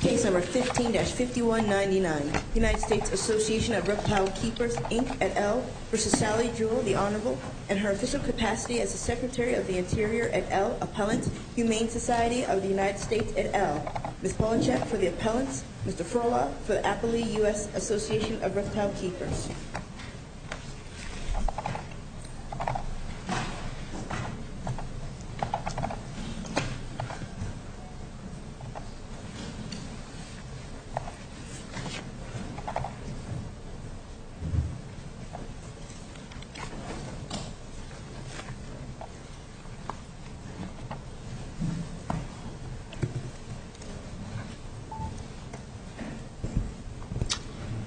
Case No. 15-5199, U.S. Assoc. of Reptile Keepers Inc. et al. v. Sally Jewell, the Honorable, and her official capacity as the Secretary of the Interior et al. Appellant Humane Society of the United States et al. Ms. Polachek for the Appellants, Mr. Frohla for the Appley U.S. Assoc. of Reptile Keepers.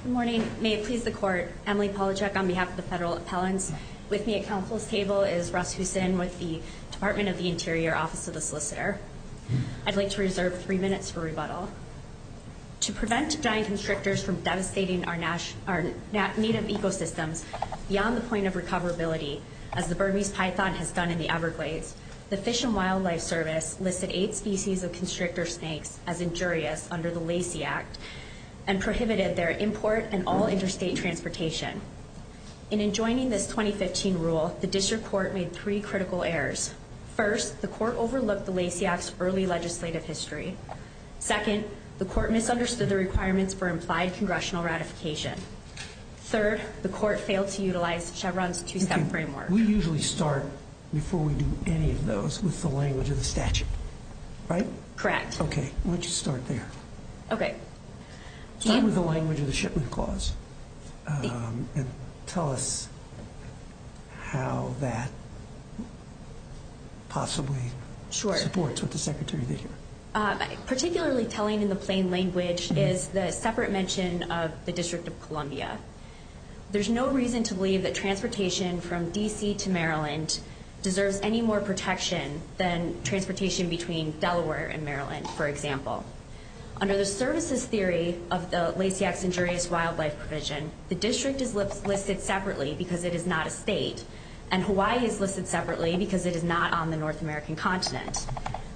Good morning. May it please the Court, Emily Polachek on behalf of the Federal Appellants. With me at Council's table is Russ Houston with the Department of the Interior Office of the Solicitor. I'd like to reserve three minutes for rebuttal. To prevent giant constrictors from devastating our native ecosystems beyond the point of recoverability, as the Burmese python has done in the Everglades, the Fish and Wildlife Service listed eight species of constrictor snakes as injurious under the Lacey Act and prohibited their import and all interstate transportation. In enjoining this 2015 rule, the District Court made three critical errors. First, the Court overlooked the Lacey Act's early legislative history. Second, the Court misunderstood the requirements for implied congressional ratification. Third, the Court failed to utilize Chevron's two-step framework. We usually start, before we do any of those, with the language of the statute, right? Correct. Okay, why don't you start there. Okay. Start with the language of the shipment clause and tell us how that possibly supports what the Secretary did here. Particularly telling in the plain language is the separate mention of the District of Columbia. There's no reason to believe that transportation from D.C. to Maryland deserves any more protection than transportation between Delaware and Maryland, for example. Under the services theory of the Lacey Act's injurious wildlife provision, the District is listed separately because it is not a state, and Hawaii is listed separately because it is not on the North American continent.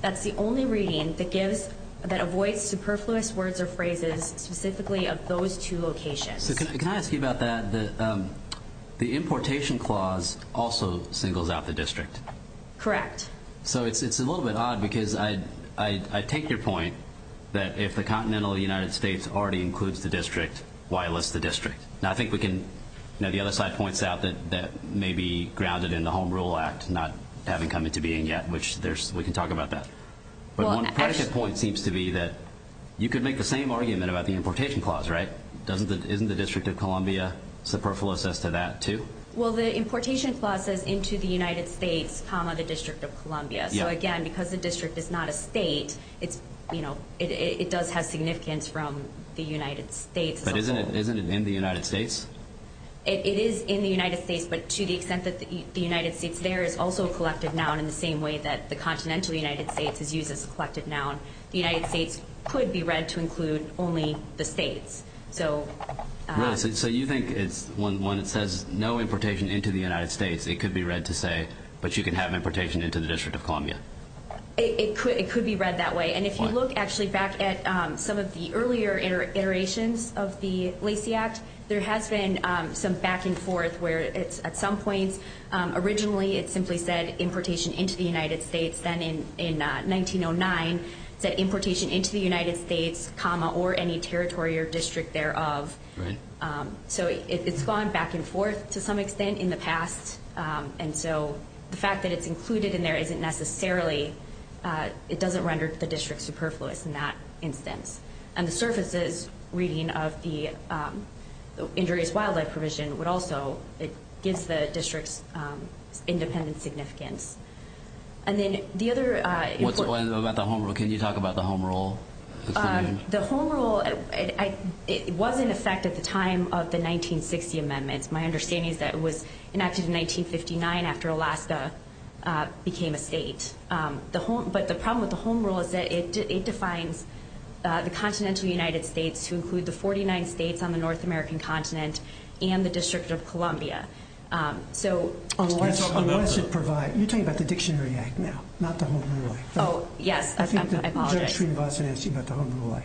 That's the only reading that avoids superfluous words or phrases specifically of those two locations. Can I ask you about that? The importation clause also singles out the District. Correct. So it's a little bit odd because I take your point that if the continental United States already includes the District, why list the District? Now, I think we can, you know, the other side points out that may be grounded in the Home Rule Act not having come into being yet, which we can talk about that. But one predicate point seems to be that you could make the same argument about the importation clause, right? Isn't the District of Columbia superfluous as to that, too? Well, the importation clause says into the United States, comma, the District of Columbia. So, again, because the District is not a state, it does have significance from the United States. But isn't it in the United States? It is in the United States, but to the extent that the United States there is also a collective noun in the same way that the continental United States is used as a collective noun, the United States could be read to include only the states. So you think when it says no importation into the United States, it could be read to say, but you can have importation into the District of Columbia? It could be read that way. And if you look actually back at some of the earlier iterations of the Lacey Act, there has been some back and forth where it's at some points. Originally, it simply said importation into the United States. Then in 1909, it said importation into the United States, comma, or any territory or district thereof. So it's gone back and forth to some extent in the past. And so the fact that it's included in there isn't necessarily, it doesn't render the district superfluous in that instance. And the surfaces reading of the injurious wildlife provision would also, it gives the districts independent significance. And then the other important. What about the home rule? Can you talk about the home rule? The home rule, it was in effect at the time of the 1960 amendments. My understanding is that it was enacted in 1959 after Alaska became a state. But the problem with the home rule is that it defines the continental United States to include the 49 states on the North American continent and the District of Columbia. On what does it provide? You're talking about the Dictionary Act now, not the home rule. Oh, yes. I apologize. I think that Judge Shreve also asked you about the home rule.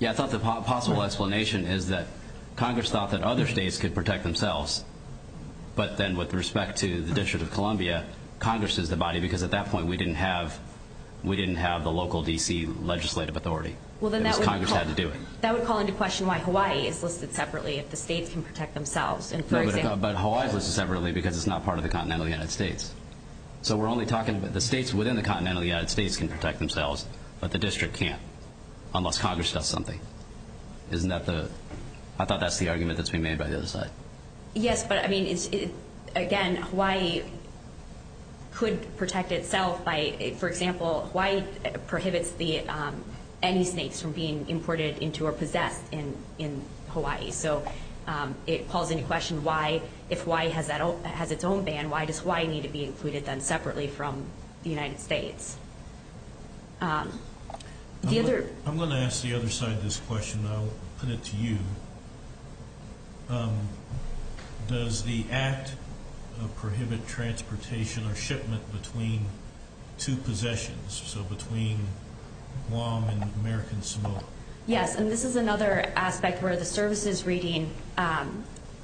Yeah, I thought the possible explanation is that Congress thought that other states could protect themselves. But then with respect to the District of Columbia, Congress is the body, because at that point we didn't have the local D.C. legislative authority. Congress had to do it. That would call into question why Hawaii is listed separately if the states can protect themselves. But Hawaii is listed separately because it's not part of the continental United States. So we're only talking about the states within the continental United States can protect themselves, but the district can't unless Congress does something. Isn't that the—I thought that's the argument that's being made by the other side. Yes, but, I mean, again, Hawaii could protect itself by, for example, Hawaii prohibits any states from being imported into or possessed in Hawaii. So it calls into question why, if Hawaii has its own ban, why does Hawaii need to be included then separately from the United States? I'm going to ask the other side this question, and I'll put it to you. Does the act prohibit transportation or shipment between two possessions, so between Guam and American Samoa? Yes, and this is another aspect where the services reading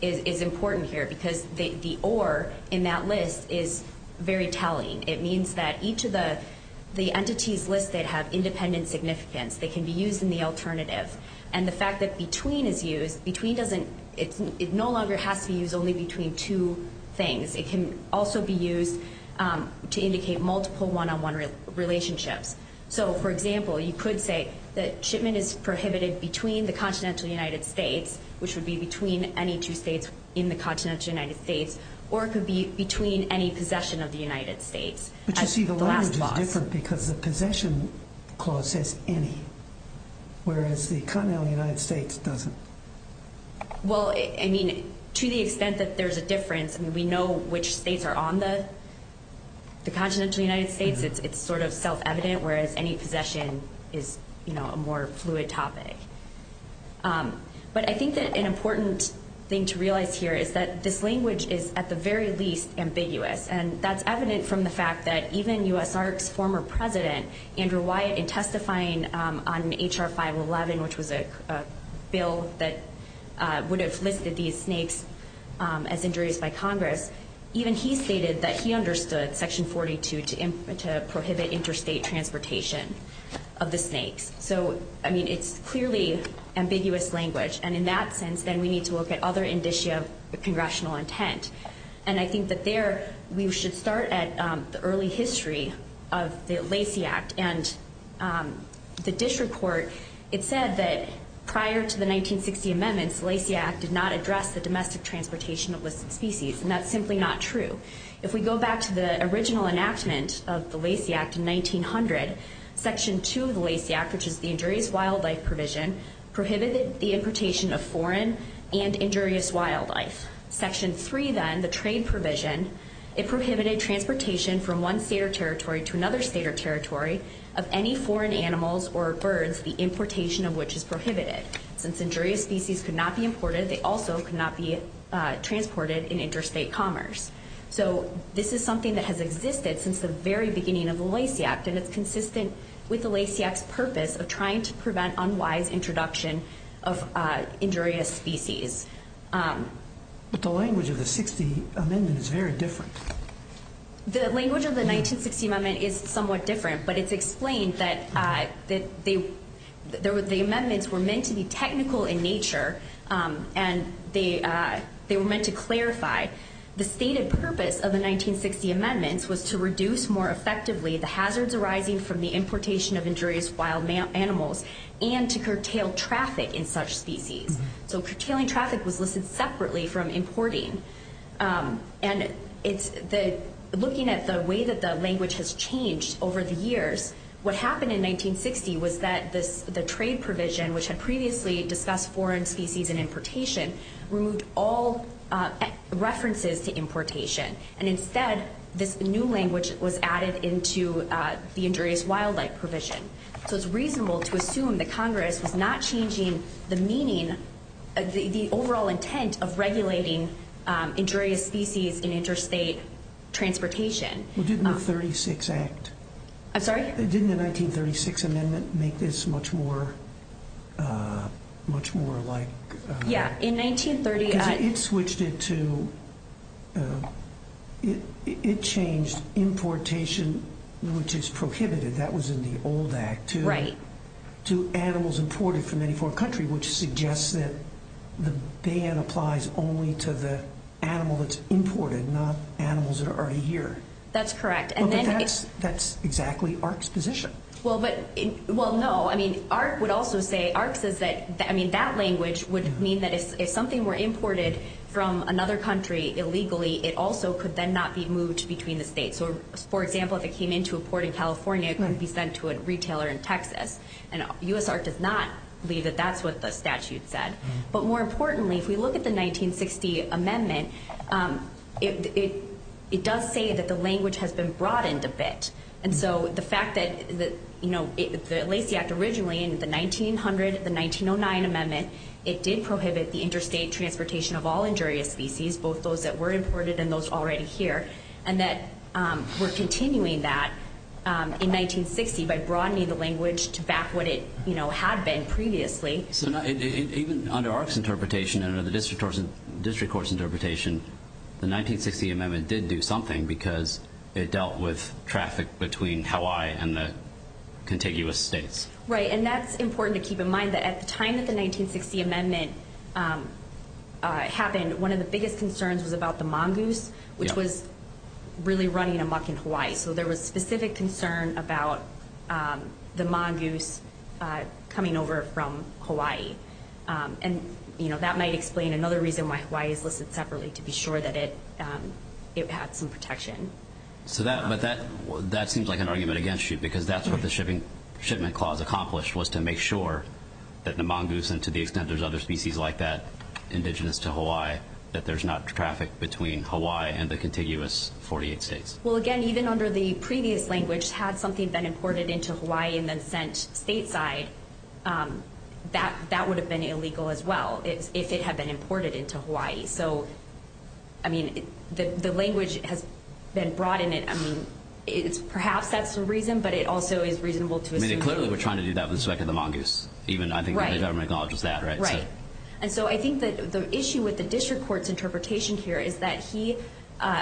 is important here because the or in that list is very telling. It means that each of the entities listed have independent significance. They can be used in the alternative. And the fact that between is used, between doesn't—it no longer has to be used only between two things. It can also be used to indicate multiple one-on-one relationships. So, for example, you could say that shipment is prohibited between the continental United States, which would be between any two states in the continental United States, or it could be between any possession of the United States. But you see, the language is different because the possession clause says any, whereas the continental United States doesn't. Well, I mean, to the extent that there's a difference, I mean, we know which states are on the continental United States. It's sort of self-evident, whereas any possession is, you know, a more fluid topic. But I think that an important thing to realize here is that this language is at the very least ambiguous, and that's evident from the fact that even U.S. ARC's former president, Andrew Wyatt, in testifying on H.R. 511, which was a bill that would have listed these snakes as injuries by Congress, even he stated that he understood Section 42 to prohibit interstate transportation of the snakes. So, I mean, it's clearly ambiguous language. And in that sense, then we need to look at other indicia of congressional intent. And I think that there we should start at the early history of the Lacey Act. And the DISH report, it said that prior to the 1960 amendments, the Lacey Act did not address the domestic transportation of listed species. And that's simply not true. If we go back to the original enactment of the Lacey Act in 1900, Section 2 of the Lacey Act, which is the injurious wildlife provision, prohibited the importation of foreign and injurious wildlife. Section 3, then, the trade provision, it prohibited transportation from one state or territory to another state or territory of any foreign animals or birds, the importation of which is prohibited. Since injurious species could not be imported, they also could not be transported in interstate commerce. So this is something that has existed since the very beginning of the Lacey Act, and it's consistent with the Lacey Act's purpose of trying to prevent unwise introduction of injurious species. But the language of the 1960 amendment is very different. The language of the 1960 amendment is somewhat different, but it's explained that the amendments were meant to be technical in nature, and they were meant to clarify the stated purpose of the 1960 amendments was to reduce more effectively the hazards arising from the importation of injurious wild animals and to curtail traffic in such species. So curtailing traffic was listed separately from importing. And looking at the way that the language has changed over the years, what happened in 1960 was that the trade provision, which had previously discussed foreign species and importation, removed all references to importation. And instead, this new language was added into the injurious wildlife provision. So it's reasonable to assume that Congress was not changing the meaning, the overall intent of regulating injurious species in interstate transportation. Well, didn't the 1936 amendment make this much more like... Yeah, in 1930... It switched it to... It changed importation, which is prohibited. That was in the old act, to animals imported from any foreign country, which suggests that the ban applies only to the animal that's imported, not animals that are already here. That's correct. But that's exactly AHRQ's position. Well, no. I mean, AHRQ would also say, AHRQ says that, I mean, that language would mean that if something were imported from another country illegally, it also could then not be moved between the states. So, for example, if it came into a port in California, it couldn't be sent to a retailer in Texas. And U.S. AHRQ does not believe that that's what the statute said. But more importantly, if we look at the 1960 amendment, it does say that the language has been broadened a bit. And so the fact that the Lacey Act originally in the 1900, the 1909 amendment, it did prohibit the interstate transportation of all injurious species, both those that were imported and those already here, and that we're continuing that in 1960 by broadening the language to back what it had been previously. So even under AHRQ's interpretation and under the district court's interpretation, the 1960 amendment did do something because it dealt with traffic between Hawaii and the contiguous states. Right, and that's important to keep in mind, that at the time that the 1960 amendment happened, one of the biggest concerns was about the mongoose, which was really running amok in Hawaii. So there was specific concern about the mongoose coming over from Hawaii. And that might explain another reason why Hawaii is listed separately, to be sure that it had some protection. But that seems like an argument against you, because that's what the shipment clause accomplished, was to make sure that the mongoose, and to the extent there's other species like that, indigenous to Hawaii, that there's not traffic between Hawaii and the contiguous 48 states. Well, again, even under the previous language, had something been imported into Hawaii and then sent stateside, that would have been illegal as well, if it had been imported into Hawaii. So, I mean, the language has been brought in. I mean, perhaps that's the reason, but it also is reasonable to assume. I mean, they clearly were trying to do that with respect to the mongoose, even I think the government acknowledges that, right? Right, and so I think the issue with the district court's interpretation here is that he...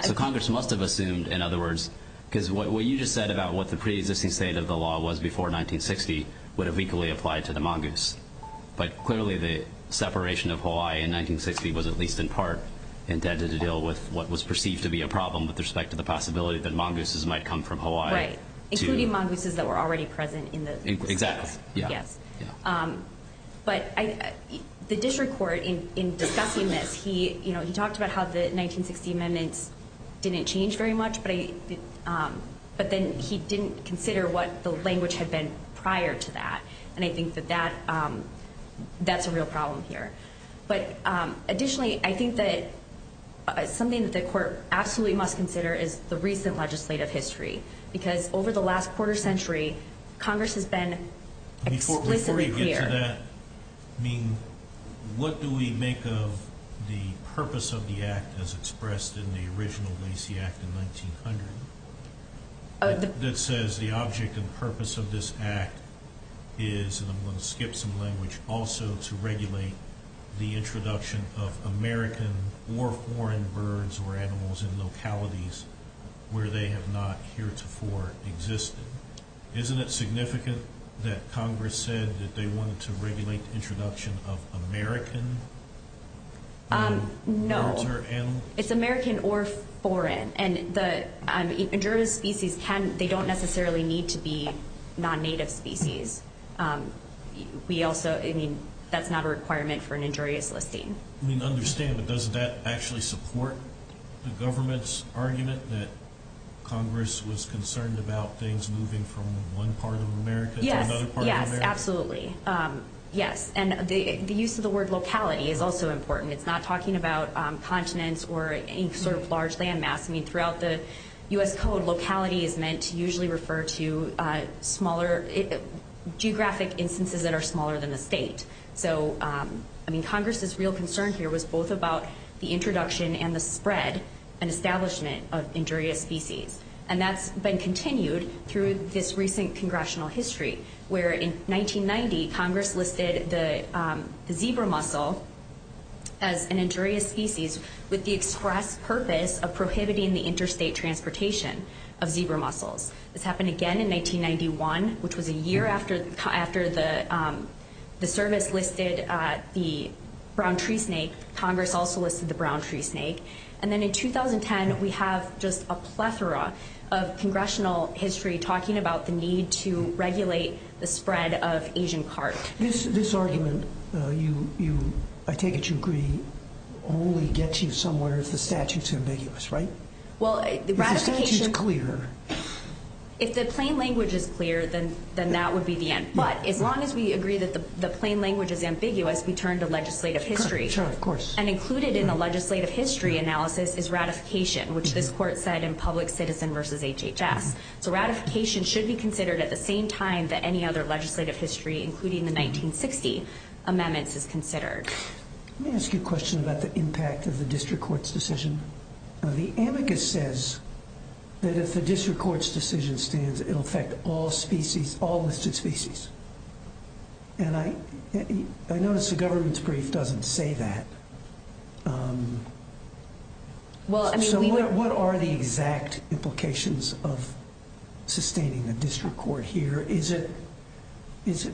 So Congress must have assumed, in other words, because what you just said about what the pre-existing state of the law was before 1960 would have equally applied to the mongoose. But clearly the separation of Hawaii in 1960 was at least in part intended to deal with what was perceived to be a problem with respect to the possibility that mongooses might come from Hawaii. Right, including mongooses that were already present in the... Exactly, yeah. Yes. But the district court, in discussing this, he talked about how the 1960 amendments didn't change very much, but then he didn't consider what the language had been prior to that, and I think that that's a real problem here. But additionally, I think that something that the court absolutely must consider is the recent legislative history, because over the last quarter century, Congress has been explicitly clear. Before you get to that, I mean, what do we make of the purpose of the act as expressed in the original Lacey Act in 1900? It says the object and purpose of this act is, and I'm going to skip some language, also to regulate the introduction of American or foreign birds or animals in localities where they have not heretofore existed. Isn't it significant that Congress said that they wanted to regulate the introduction of American birds or animals? It's American or foreign. And the injurious species, they don't necessarily need to be non-native species. We also, I mean, that's not a requirement for an injurious listing. I mean, I understand, but does that actually support the government's argument that Congress was concerned about things moving from one part of America to another part of America? Yes, yes, absolutely. Yes, and the use of the word locality is also important. It's not talking about continents or any sort of large land mass. I mean, throughout the U.S. Code, locality is meant to usually refer to smaller geographic instances that are smaller than the state. So, I mean, Congress's real concern here was both about the introduction and the spread and establishment of injurious species, and that's been continued through this recent congressional history where, in 1990, Congress listed the zebra mussel as an injurious species with the express purpose of prohibiting the interstate transportation of zebra mussels. This happened again in 1991, which was a year after the service listed the brown tree snake. Congress also listed the brown tree snake. And then in 2010, we have just a plethora of congressional history talking about the need to regulate the spread of Asian carp. This argument, I take it you agree, only gets you somewhere if the statute's ambiguous, right? Well, the ratification. If the statute's clear. If the plain language is clear, then that would be the end. But as long as we agree that the plain language is ambiguous, we turn to legislative history. Sure, of course. And included in the legislative history analysis is ratification, which this court said in Public Citizen v. HHS. So ratification should be considered at the same time that any other legislative history, including the 1960 amendments, is considered. Let me ask you a question about the impact of the district court's decision. The amicus says that if the district court's decision stands, it will affect all listed species. And I notice the government's brief doesn't say that. So what are the exact implications of sustaining a district court here? This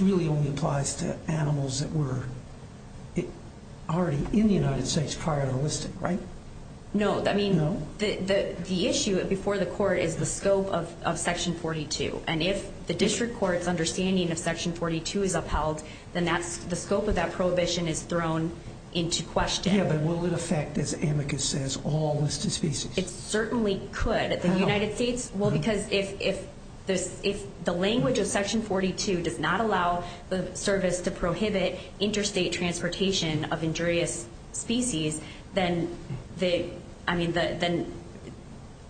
really only applies to animals that were already in the United States prior to listed, right? No. I mean, the issue before the court is the scope of Section 42. And if the district court's understanding of Section 42 is upheld, then the scope of that prohibition is thrown into question. Yeah, but will it affect, as amicus says, all listed species? It certainly could. How? Well, because if the language of Section 42 does not allow the service to prohibit interstate transportation of injurious species, then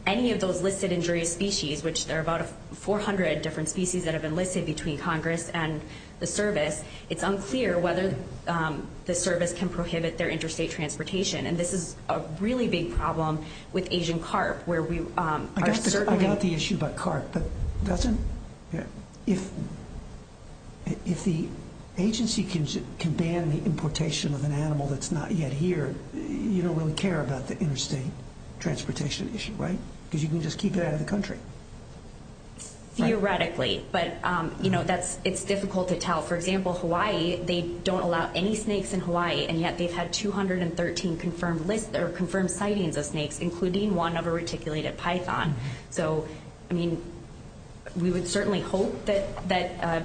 any of those listed injurious species, which there are about 400 different species that have been listed between Congress and the service, it's unclear whether the service can prohibit their interstate transportation. And this is a really big problem with Asian carp, where we are certainly ‑‑ I got the issue about carp, but doesn't ‑‑ if the agency can ban the importation of an animal that's not yet here, you don't really care about the interstate transportation issue, right? Because you can just keep it out of the country. Theoretically, but it's difficult to tell. For example, Hawaii, they don't allow any snakes in Hawaii, and yet they've had 213 confirmed sightings of snakes, including one of a reticulated python. So, I mean, we would certainly hope that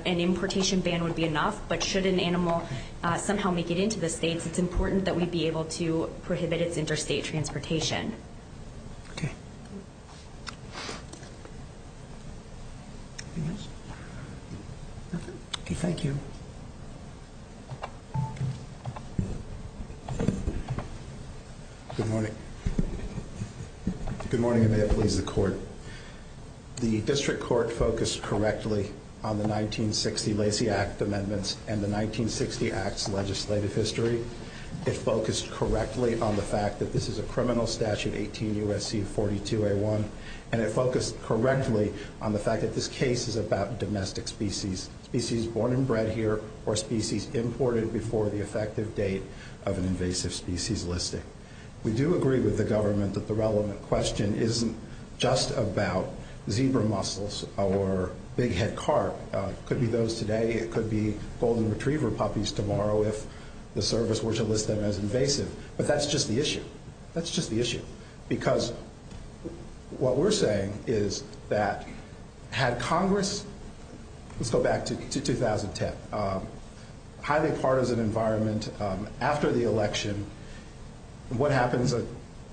an importation ban would be enough, but should an animal somehow make it into the states, it's important that we be able to prohibit its interstate transportation. Okay. Anything else? Nothing? Okay, thank you. Good morning. Good morning, and may it please the Court. The district court focused correctly on the 1960 Lacey Act amendments and the 1960 Act's legislative history. It focused correctly on the fact that this is a criminal statute, 18 U.S.C. 42A1, and it focused correctly on the fact that this case is about domestic species, species born and bred here, or species imported before the effective date of an invasive species listing. We do agree with the government that the relevant question isn't just about zebra mussels or bighead carp. It could be those today. It could be golden retriever puppies tomorrow if the service were to list them as invasive. But that's just the issue. That's just the issue. Because what we're saying is that had Congress, let's go back to 2010, highly partisan environment after the election, what happens?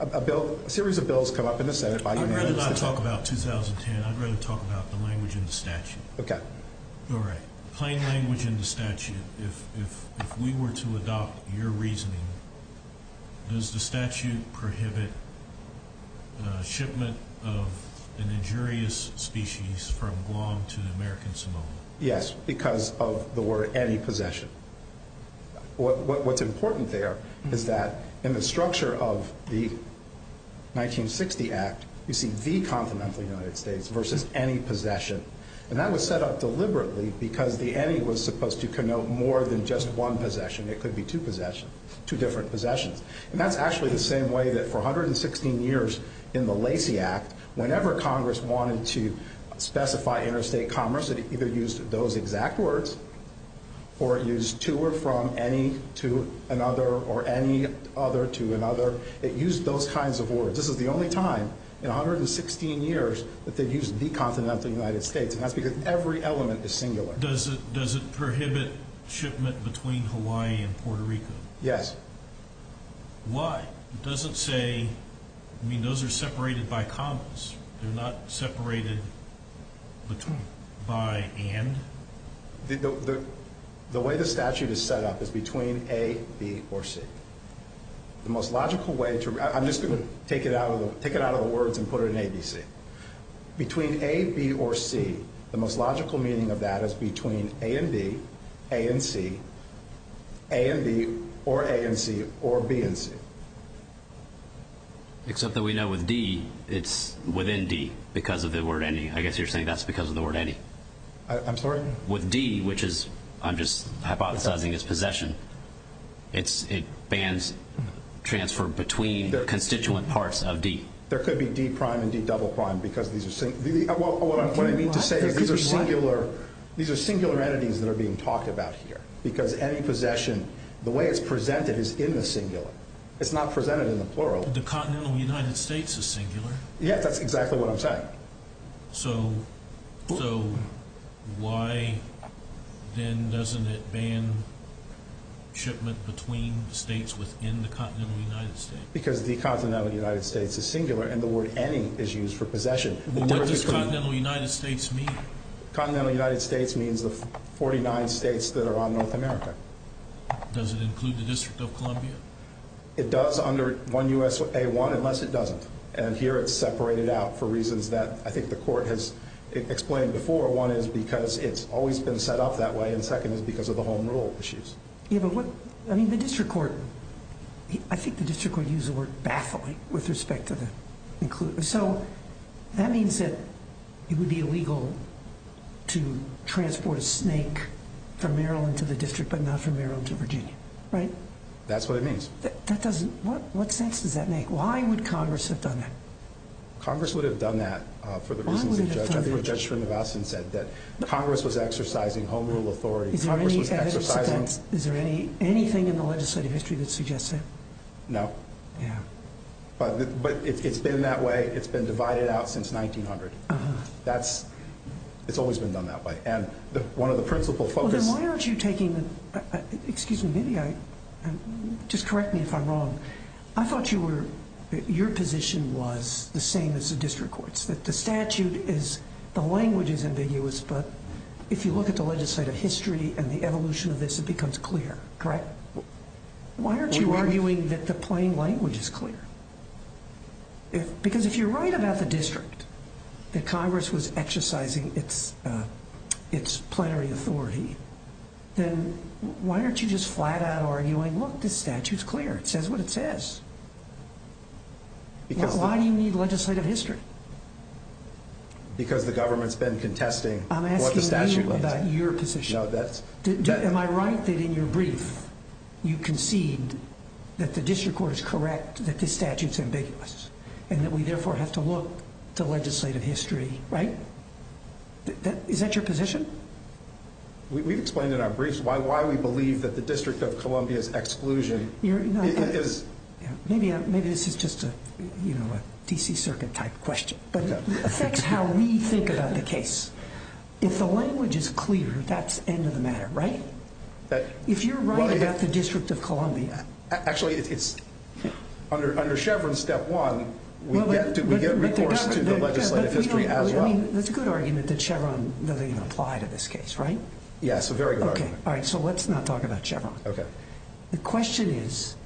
A series of bills come up in the Senate. I'd rather not talk about 2010. I'd rather talk about the language in the statute. Okay. All right. Plain language in the statute. If we were to adopt your reasoning, does the statute prohibit shipment of an injurious species from Guam to American Samoa? Yes, because of the word antipossession. What's important there is that in the structure of the 1960 Act, you see the continental United States versus antipossession. And that was set up deliberately because the any was supposed to connote more than just one possession. It could be two different possessions. And that's actually the same way that for 116 years in the Lacey Act, whenever Congress wanted to specify interstate commerce, it either used those exact words or it used to or from, any to another, or any other to another. It used those kinds of words. This is the only time in 116 years that they've used the continental United States, and that's because every element is singular. Does it prohibit shipment between Hawaii and Puerto Rico? Yes. Why? It doesn't say, I mean, those are separated by commas. They're not separated by and? The way the statute is set up is between A, B, or C. The most logical way to, I'm just going to take it out of the words and put it in ABC. Between A, B, or C, the most logical meaning of that is between A and B, A and C, A and B, or A and C, or B and C. Except that we know with D, it's within D because of the word any. I guess you're saying that's because of the word any. I'm sorry? With D, which is, I'm just hypothesizing, is possession. It bans transfer between constituent parts of D. There could be D prime and D double prime because these are singular entities that are being talked about here because any possession, the way it's presented is in the singular. It's not presented in the plural. The continental United States is singular. Yes, that's exactly what I'm saying. So why then doesn't it ban shipment between states within the continental United States? Because the continental United States is singular and the word any is used for possession. What does continental United States mean? Continental United States means the 49 states that are on North America. Does it include the District of Columbia? It does under 1 U.S.A. 1 unless it doesn't. And here it's separated out for reasons that I think the court has explained before. One is because it's always been set up that way, and second is because of the home rule issues. I think the district court used the word baffling with respect to the inclusion. So that means that it would be illegal to transport a snake from Maryland to the district but not from Maryland to Virginia, right? That's what it means. What sense does that make? Why would Congress have done that? Congress would have done that for the reasons that Judge Srinivasan said. That Congress was exercising home rule authority. Is there anything in the legislative history that suggests that? No. Yeah. But it's been that way. It's been divided out since 1900. It's always been done that way. And one of the principal focuses... Then why aren't you taking... Excuse me. Maybe I... Just correct me if I'm wrong. I thought your position was the same as the district court's, that the statute is... The language is ambiguous, but if you look at the legislative history and the evolution of this, it becomes clear. Correct? Why aren't you arguing that the plain language is clear? Because if you're right about the district, that Congress was exercising its plenary authority, then why aren't you just flat out arguing, look, this statute is clear. It says what it says. Why do you need legislative history? Because the government's been contesting what the statute... I'm asking you about your position. No, that's... Am I right that in your brief, you concede that the district court is correct, that this statute is ambiguous, and that we therefore have to look to legislative history, right? Is that your position? We've explained in our briefs why we believe that the District of Columbia's exclusion is... Maybe this is just a D.C. Circuit-type question, but it affects how we think about the case. If the language is clear, that's end of the matter, right? If you're right about the District of Columbia... Actually, under Chevron step one, we get recourse to the legislative history as well. That's a good argument that Chevron doesn't even apply to this case, right? Yes, a very good argument. All right, so let's not talk about Chevron. Okay. The question is,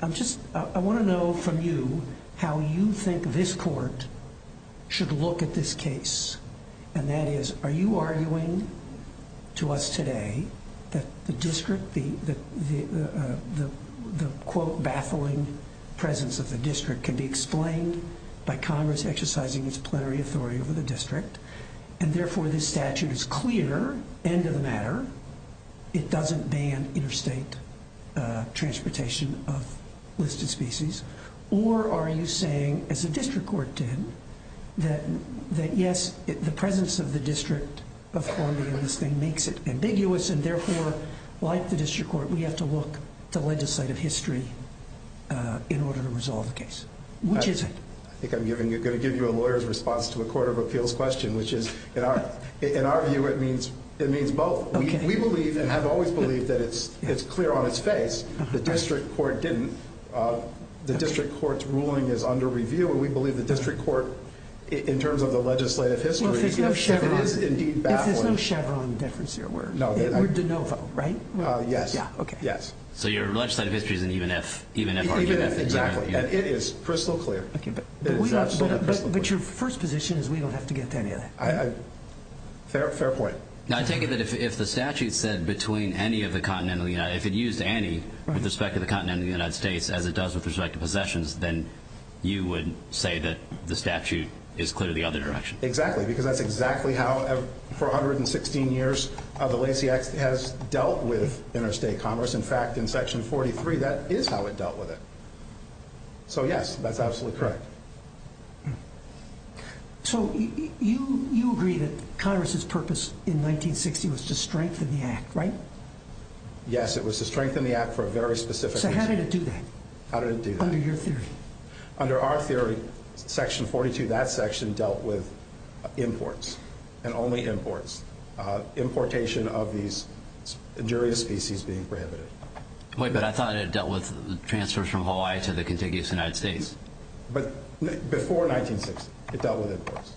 I want to know from you how you think this court should look at this case, and that is, are you arguing to us today that the district, the, quote, baffling presence of the district can be explained by Congress exercising its plenary authority over the district, and therefore this statute is clear, end of the matter, it doesn't ban interstate transportation of listed species, or are you saying, as the district court did, that yes, the presence of the District of Columbia in this thing makes it ambiguous, and therefore, like the district court, we have to look at the legislative history in order to resolve the case? Which is it? I think I'm going to give you a lawyer's response to a court of appeals question, which is, in our view, it means both. We believe, and have always believed, that it's clear on its face. The district court didn't. The district court's ruling is under review, and we believe the district court, in terms of the legislative history, it is indeed baffling. If there's no Chevron difference here, we're de novo, right? Yes. Okay. So your legislative history is an even if argument? Even if, exactly. And it is crystal clear. But your first position is we don't have to get to any of that. Fair point. I take it that if the statute said between any of the continental United States, if it used any with respect to the continental United States, as it does with respect to possessions, then you would say that the statute is clearly the other direction? Exactly, because that's exactly how, for 116 years, the Lacey Act has dealt with interstate commerce. In fact, in Section 43, that is how it dealt with it. So, yes, that's absolutely correct. So you agree that Congress's purpose in 1960 was to strengthen the act, right? Yes, it was to strengthen the act for a very specific reason. So how did it do that? How did it do that? Under your theory. Under our theory, Section 42, that section dealt with imports, and only imports, importation of these injurious species being prohibited. Wait, but I thought it dealt with transfers from Hawaii to the contiguous United States. But before 1960, it dealt with imports.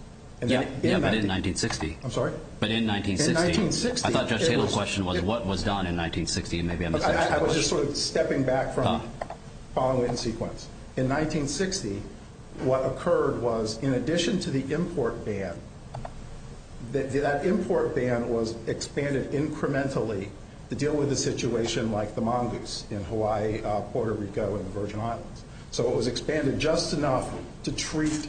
Yeah, but in 1960. I'm sorry? But in 1960. In 1960. I thought Judge Tatum's question was what was done in 1960. I was just sort of stepping back from the following sequence. In 1960, what occurred was, in addition to the import ban, that import ban was expanded incrementally to deal with a situation like the mongoose in Hawaii, Puerto Rico, and the Virgin Islands. So it was expanded just enough to treat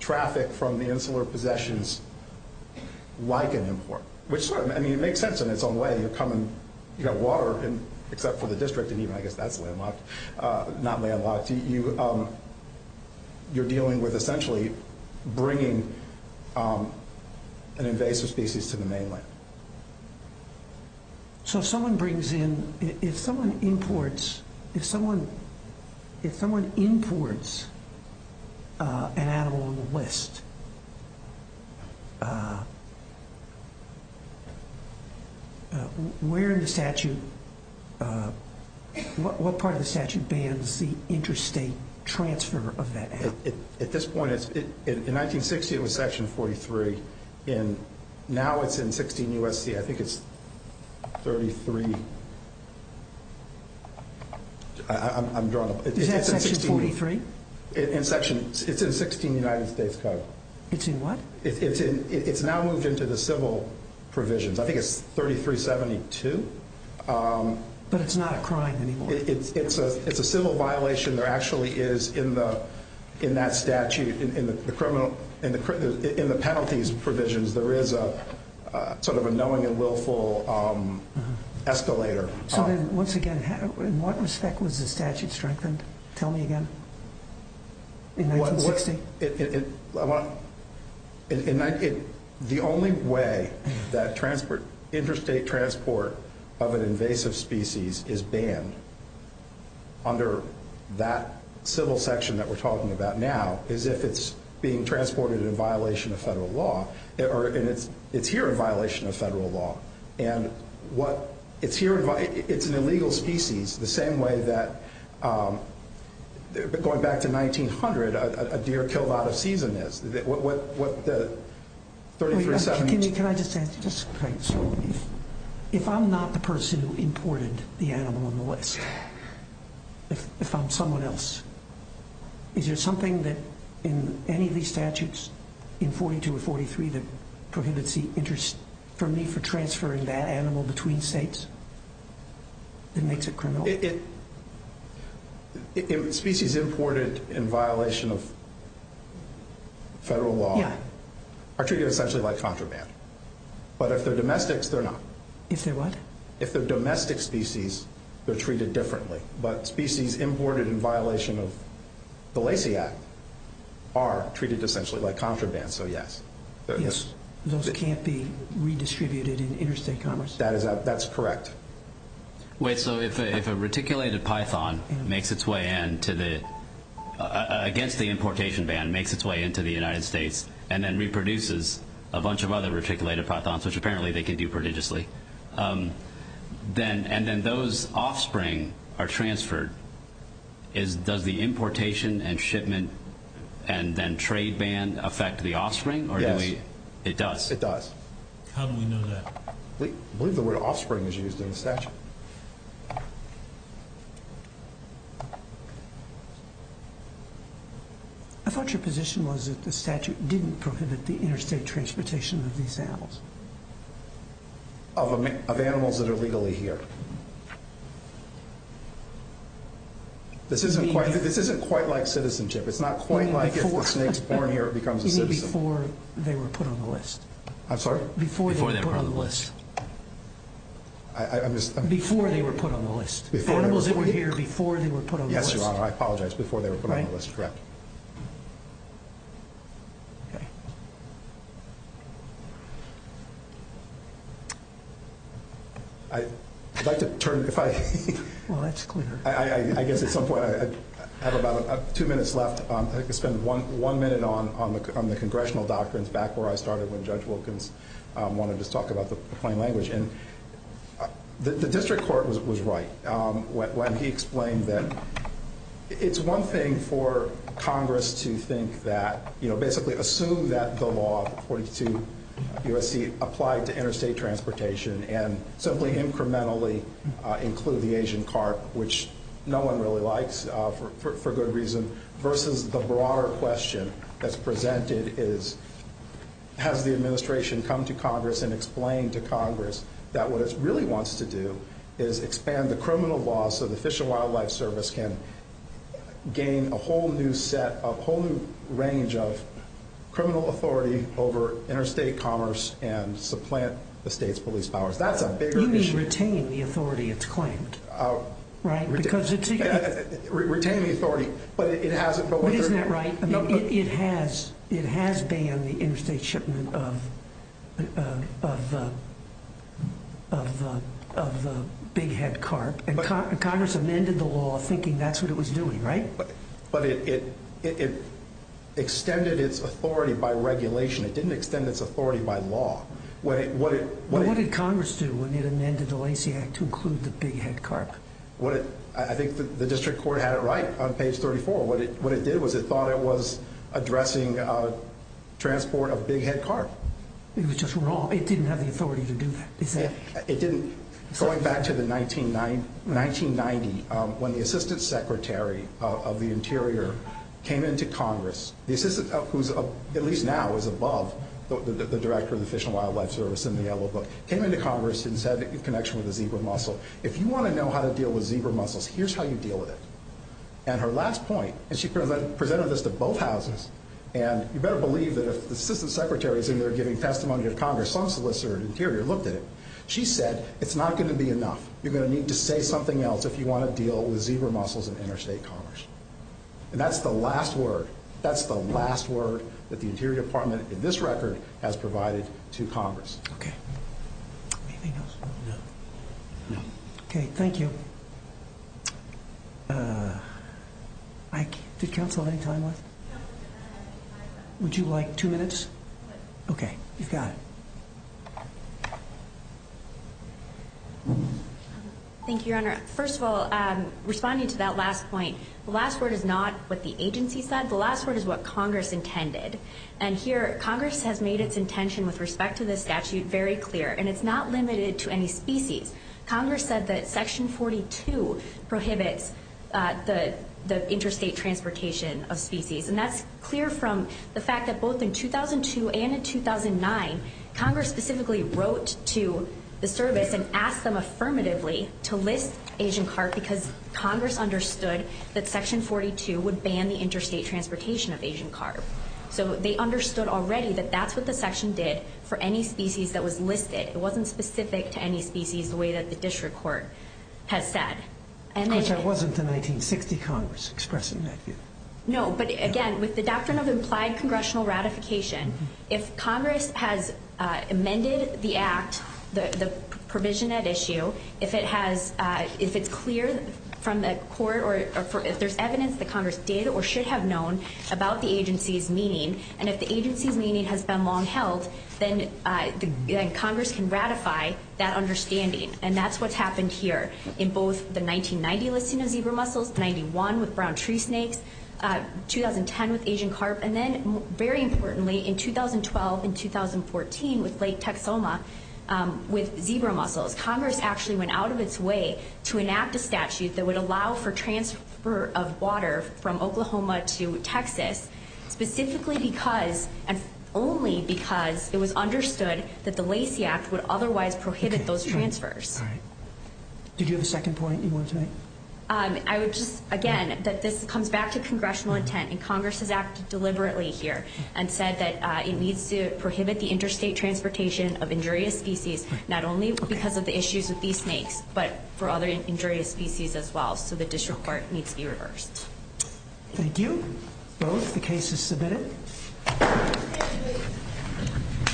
traffic from the insular possessions like an import, which sort of makes sense in its own way. You come and you have water, except for the district, and even I guess that's landlocked, not landlocked. You're dealing with essentially bringing an invasive species to the mainland. So if someone imports an animal on the list, what part of the statute bans the interstate transfer of that animal? At this point, in 1960, it was Section 43. Now it's in 16 U.S.C. I think it's 33. Is that Section 43? It's in 16 United States Code. It's in what? It's now moved into the civil provisions. I think it's 3372. But it's not a crime anymore. It's a civil violation. There actually is, in that statute, in the penalties provisions, there is sort of a knowing and willful escalator. So then, once again, in what respect was the statute strengthened? Tell me again. In 1960? The only way that interstate transport of an invasive species is banned under that civil section that we're talking about now is if it's being transported in violation of federal law. It's here in violation of federal law. It's an illegal species, the same way that, going back to 1900, a deer killed out of season is. Can I just ask you, if I'm not the person who imported the animal on the list, if I'm someone else, is there something in any of these statutes, in 42 or 43, that prohibits the interest for me for transferring that animal between states? That makes it criminal? Species imported in violation of federal law are treated essentially like contraband. But if they're domestics, they're not. If they're what? If they're domestic species, they're treated differently. But species imported in violation of the Lacey Act are treated essentially like contraband, so yes. Those can't be redistributed in interstate commerce? That's correct. Wait, so if a reticulated python makes its way in against the importation ban, makes its way into the United States, and then reproduces a bunch of other reticulated pythons, which apparently they can do prodigiously, and then those offspring are transferred, does the importation and shipment and then trade ban affect the offspring? Yes. It does? It does. How do we know that? I believe the word offspring is used in the statute. I thought your position was that the statute didn't prohibit the interstate transportation of these animals. Of animals that are legally here. This isn't quite like citizenship. It's not quite like if the snake's born here, it becomes a citizen. Even before they were put on the list. I'm sorry? Before they were put on the list. Before they were put on the list. Animals that were here before they were put on the list. Yes, Your Honor, I apologize. Before they were put on the list, correct. I'd like to turn, if I... Well, that's clear. I guess at some point, I have about two minutes left. I think I'll spend one minute on the congressional doctrines back where I started when Judge Wilkins wanted to talk about the plain language. And the district court was right when he explained that it's one thing for Congress to think that, you know, basically assume that the law, 42 U.S.C., applied to interstate transportation and simply incrementally include the Asian carp, which no one really likes for good reason, versus the broader question that's presented is, has the administration come to Congress and explained to Congress that what it really wants to do is expand the criminal law so the Fish and Wildlife Service can gain a whole new set, a whole new range of criminal authority over interstate commerce and supplant the state's police powers. That's a bigger issue. You mean retain the authority it's claimed, right? Because it's... Retain the authority, but it hasn't... But isn't that right? It has banned the interstate shipment of the big head carp, and Congress amended the law thinking that's what it was doing, right? But it extended its authority by regulation. It didn't extend its authority by law. But what did Congress do when it amended the Lacey Act to include the big head carp? I think the district court had it right on page 34. What it did was it thought it was addressing transport of big head carp. It was just wrong. It didn't have the authority to do that. It didn't. Going back to the 1990, when the assistant secretary of the Interior came into Congress, the assistant, who's at least now is above the director of the Fish and Wildlife Service in the yellow book, came into Congress and said in connection with the zebra mussel, if you want to know how to deal with zebra mussels, here's how you deal with it. And her last point, and she presented this to both houses, and you better believe that if the assistant secretary is in there giving testimony to Congress, some solicitor at Interior looked at it. She said it's not going to be enough. You're going to need to say something else if you want to deal with zebra mussels in interstate commerce. And that's the last word. That's the last word that the Interior Department in this record has provided to Congress. Okay. Anything else? No. No. Okay. Thank you. Did counsel have any time left? Would you like two minutes? Okay. You've got it. Thank you, Your Honor. First of all, responding to that last point, the last word is not what the agency said. The last word is what Congress intended. And here Congress has made its intention with respect to this statute very clear, and it's not limited to any species. Congress said that Section 42 prohibits the interstate transportation of species. And that's clear from the fact that both in 2002 and in 2009, Congress specifically wrote to the service and asked them affirmatively to list Asian carp because Congress understood that Section 42 would ban the interstate transportation of Asian carp. So they understood already that that's what the section did for any species that was listed. It wasn't specific to any species the way that the district court has said. Of course, that wasn't the 1960 Congress expressing that view. No, but again, with the doctrine of implied congressional ratification, if Congress has amended the act, the provision at issue, if it's clear from the court or if there's evidence that Congress did or should have known about the agency's meaning, and if the agency's meaning has been long held, then Congress can ratify that understanding. And that's what's happened here in both the 1990 listing of zebra mussels, 91 with brown tree snakes, 2010 with Asian carp, and then very importantly in 2012 and 2014 with Lake Texoma with zebra mussels. Congress actually went out of its way to enact a statute that would allow for transfer of water from Oklahoma to Texas specifically because and only because it was understood that the Lacey Act would otherwise prohibit those transfers. All right. Did you have a second point you wanted to make? I would just, again, that this comes back to congressional intent, and Congress has acted deliberately here and said that it needs to prohibit the interstate transportation of injurious species not only because of the issues with these snakes but for other injurious species as well. So the district court needs to be reversed. Thank you. The case is submitted.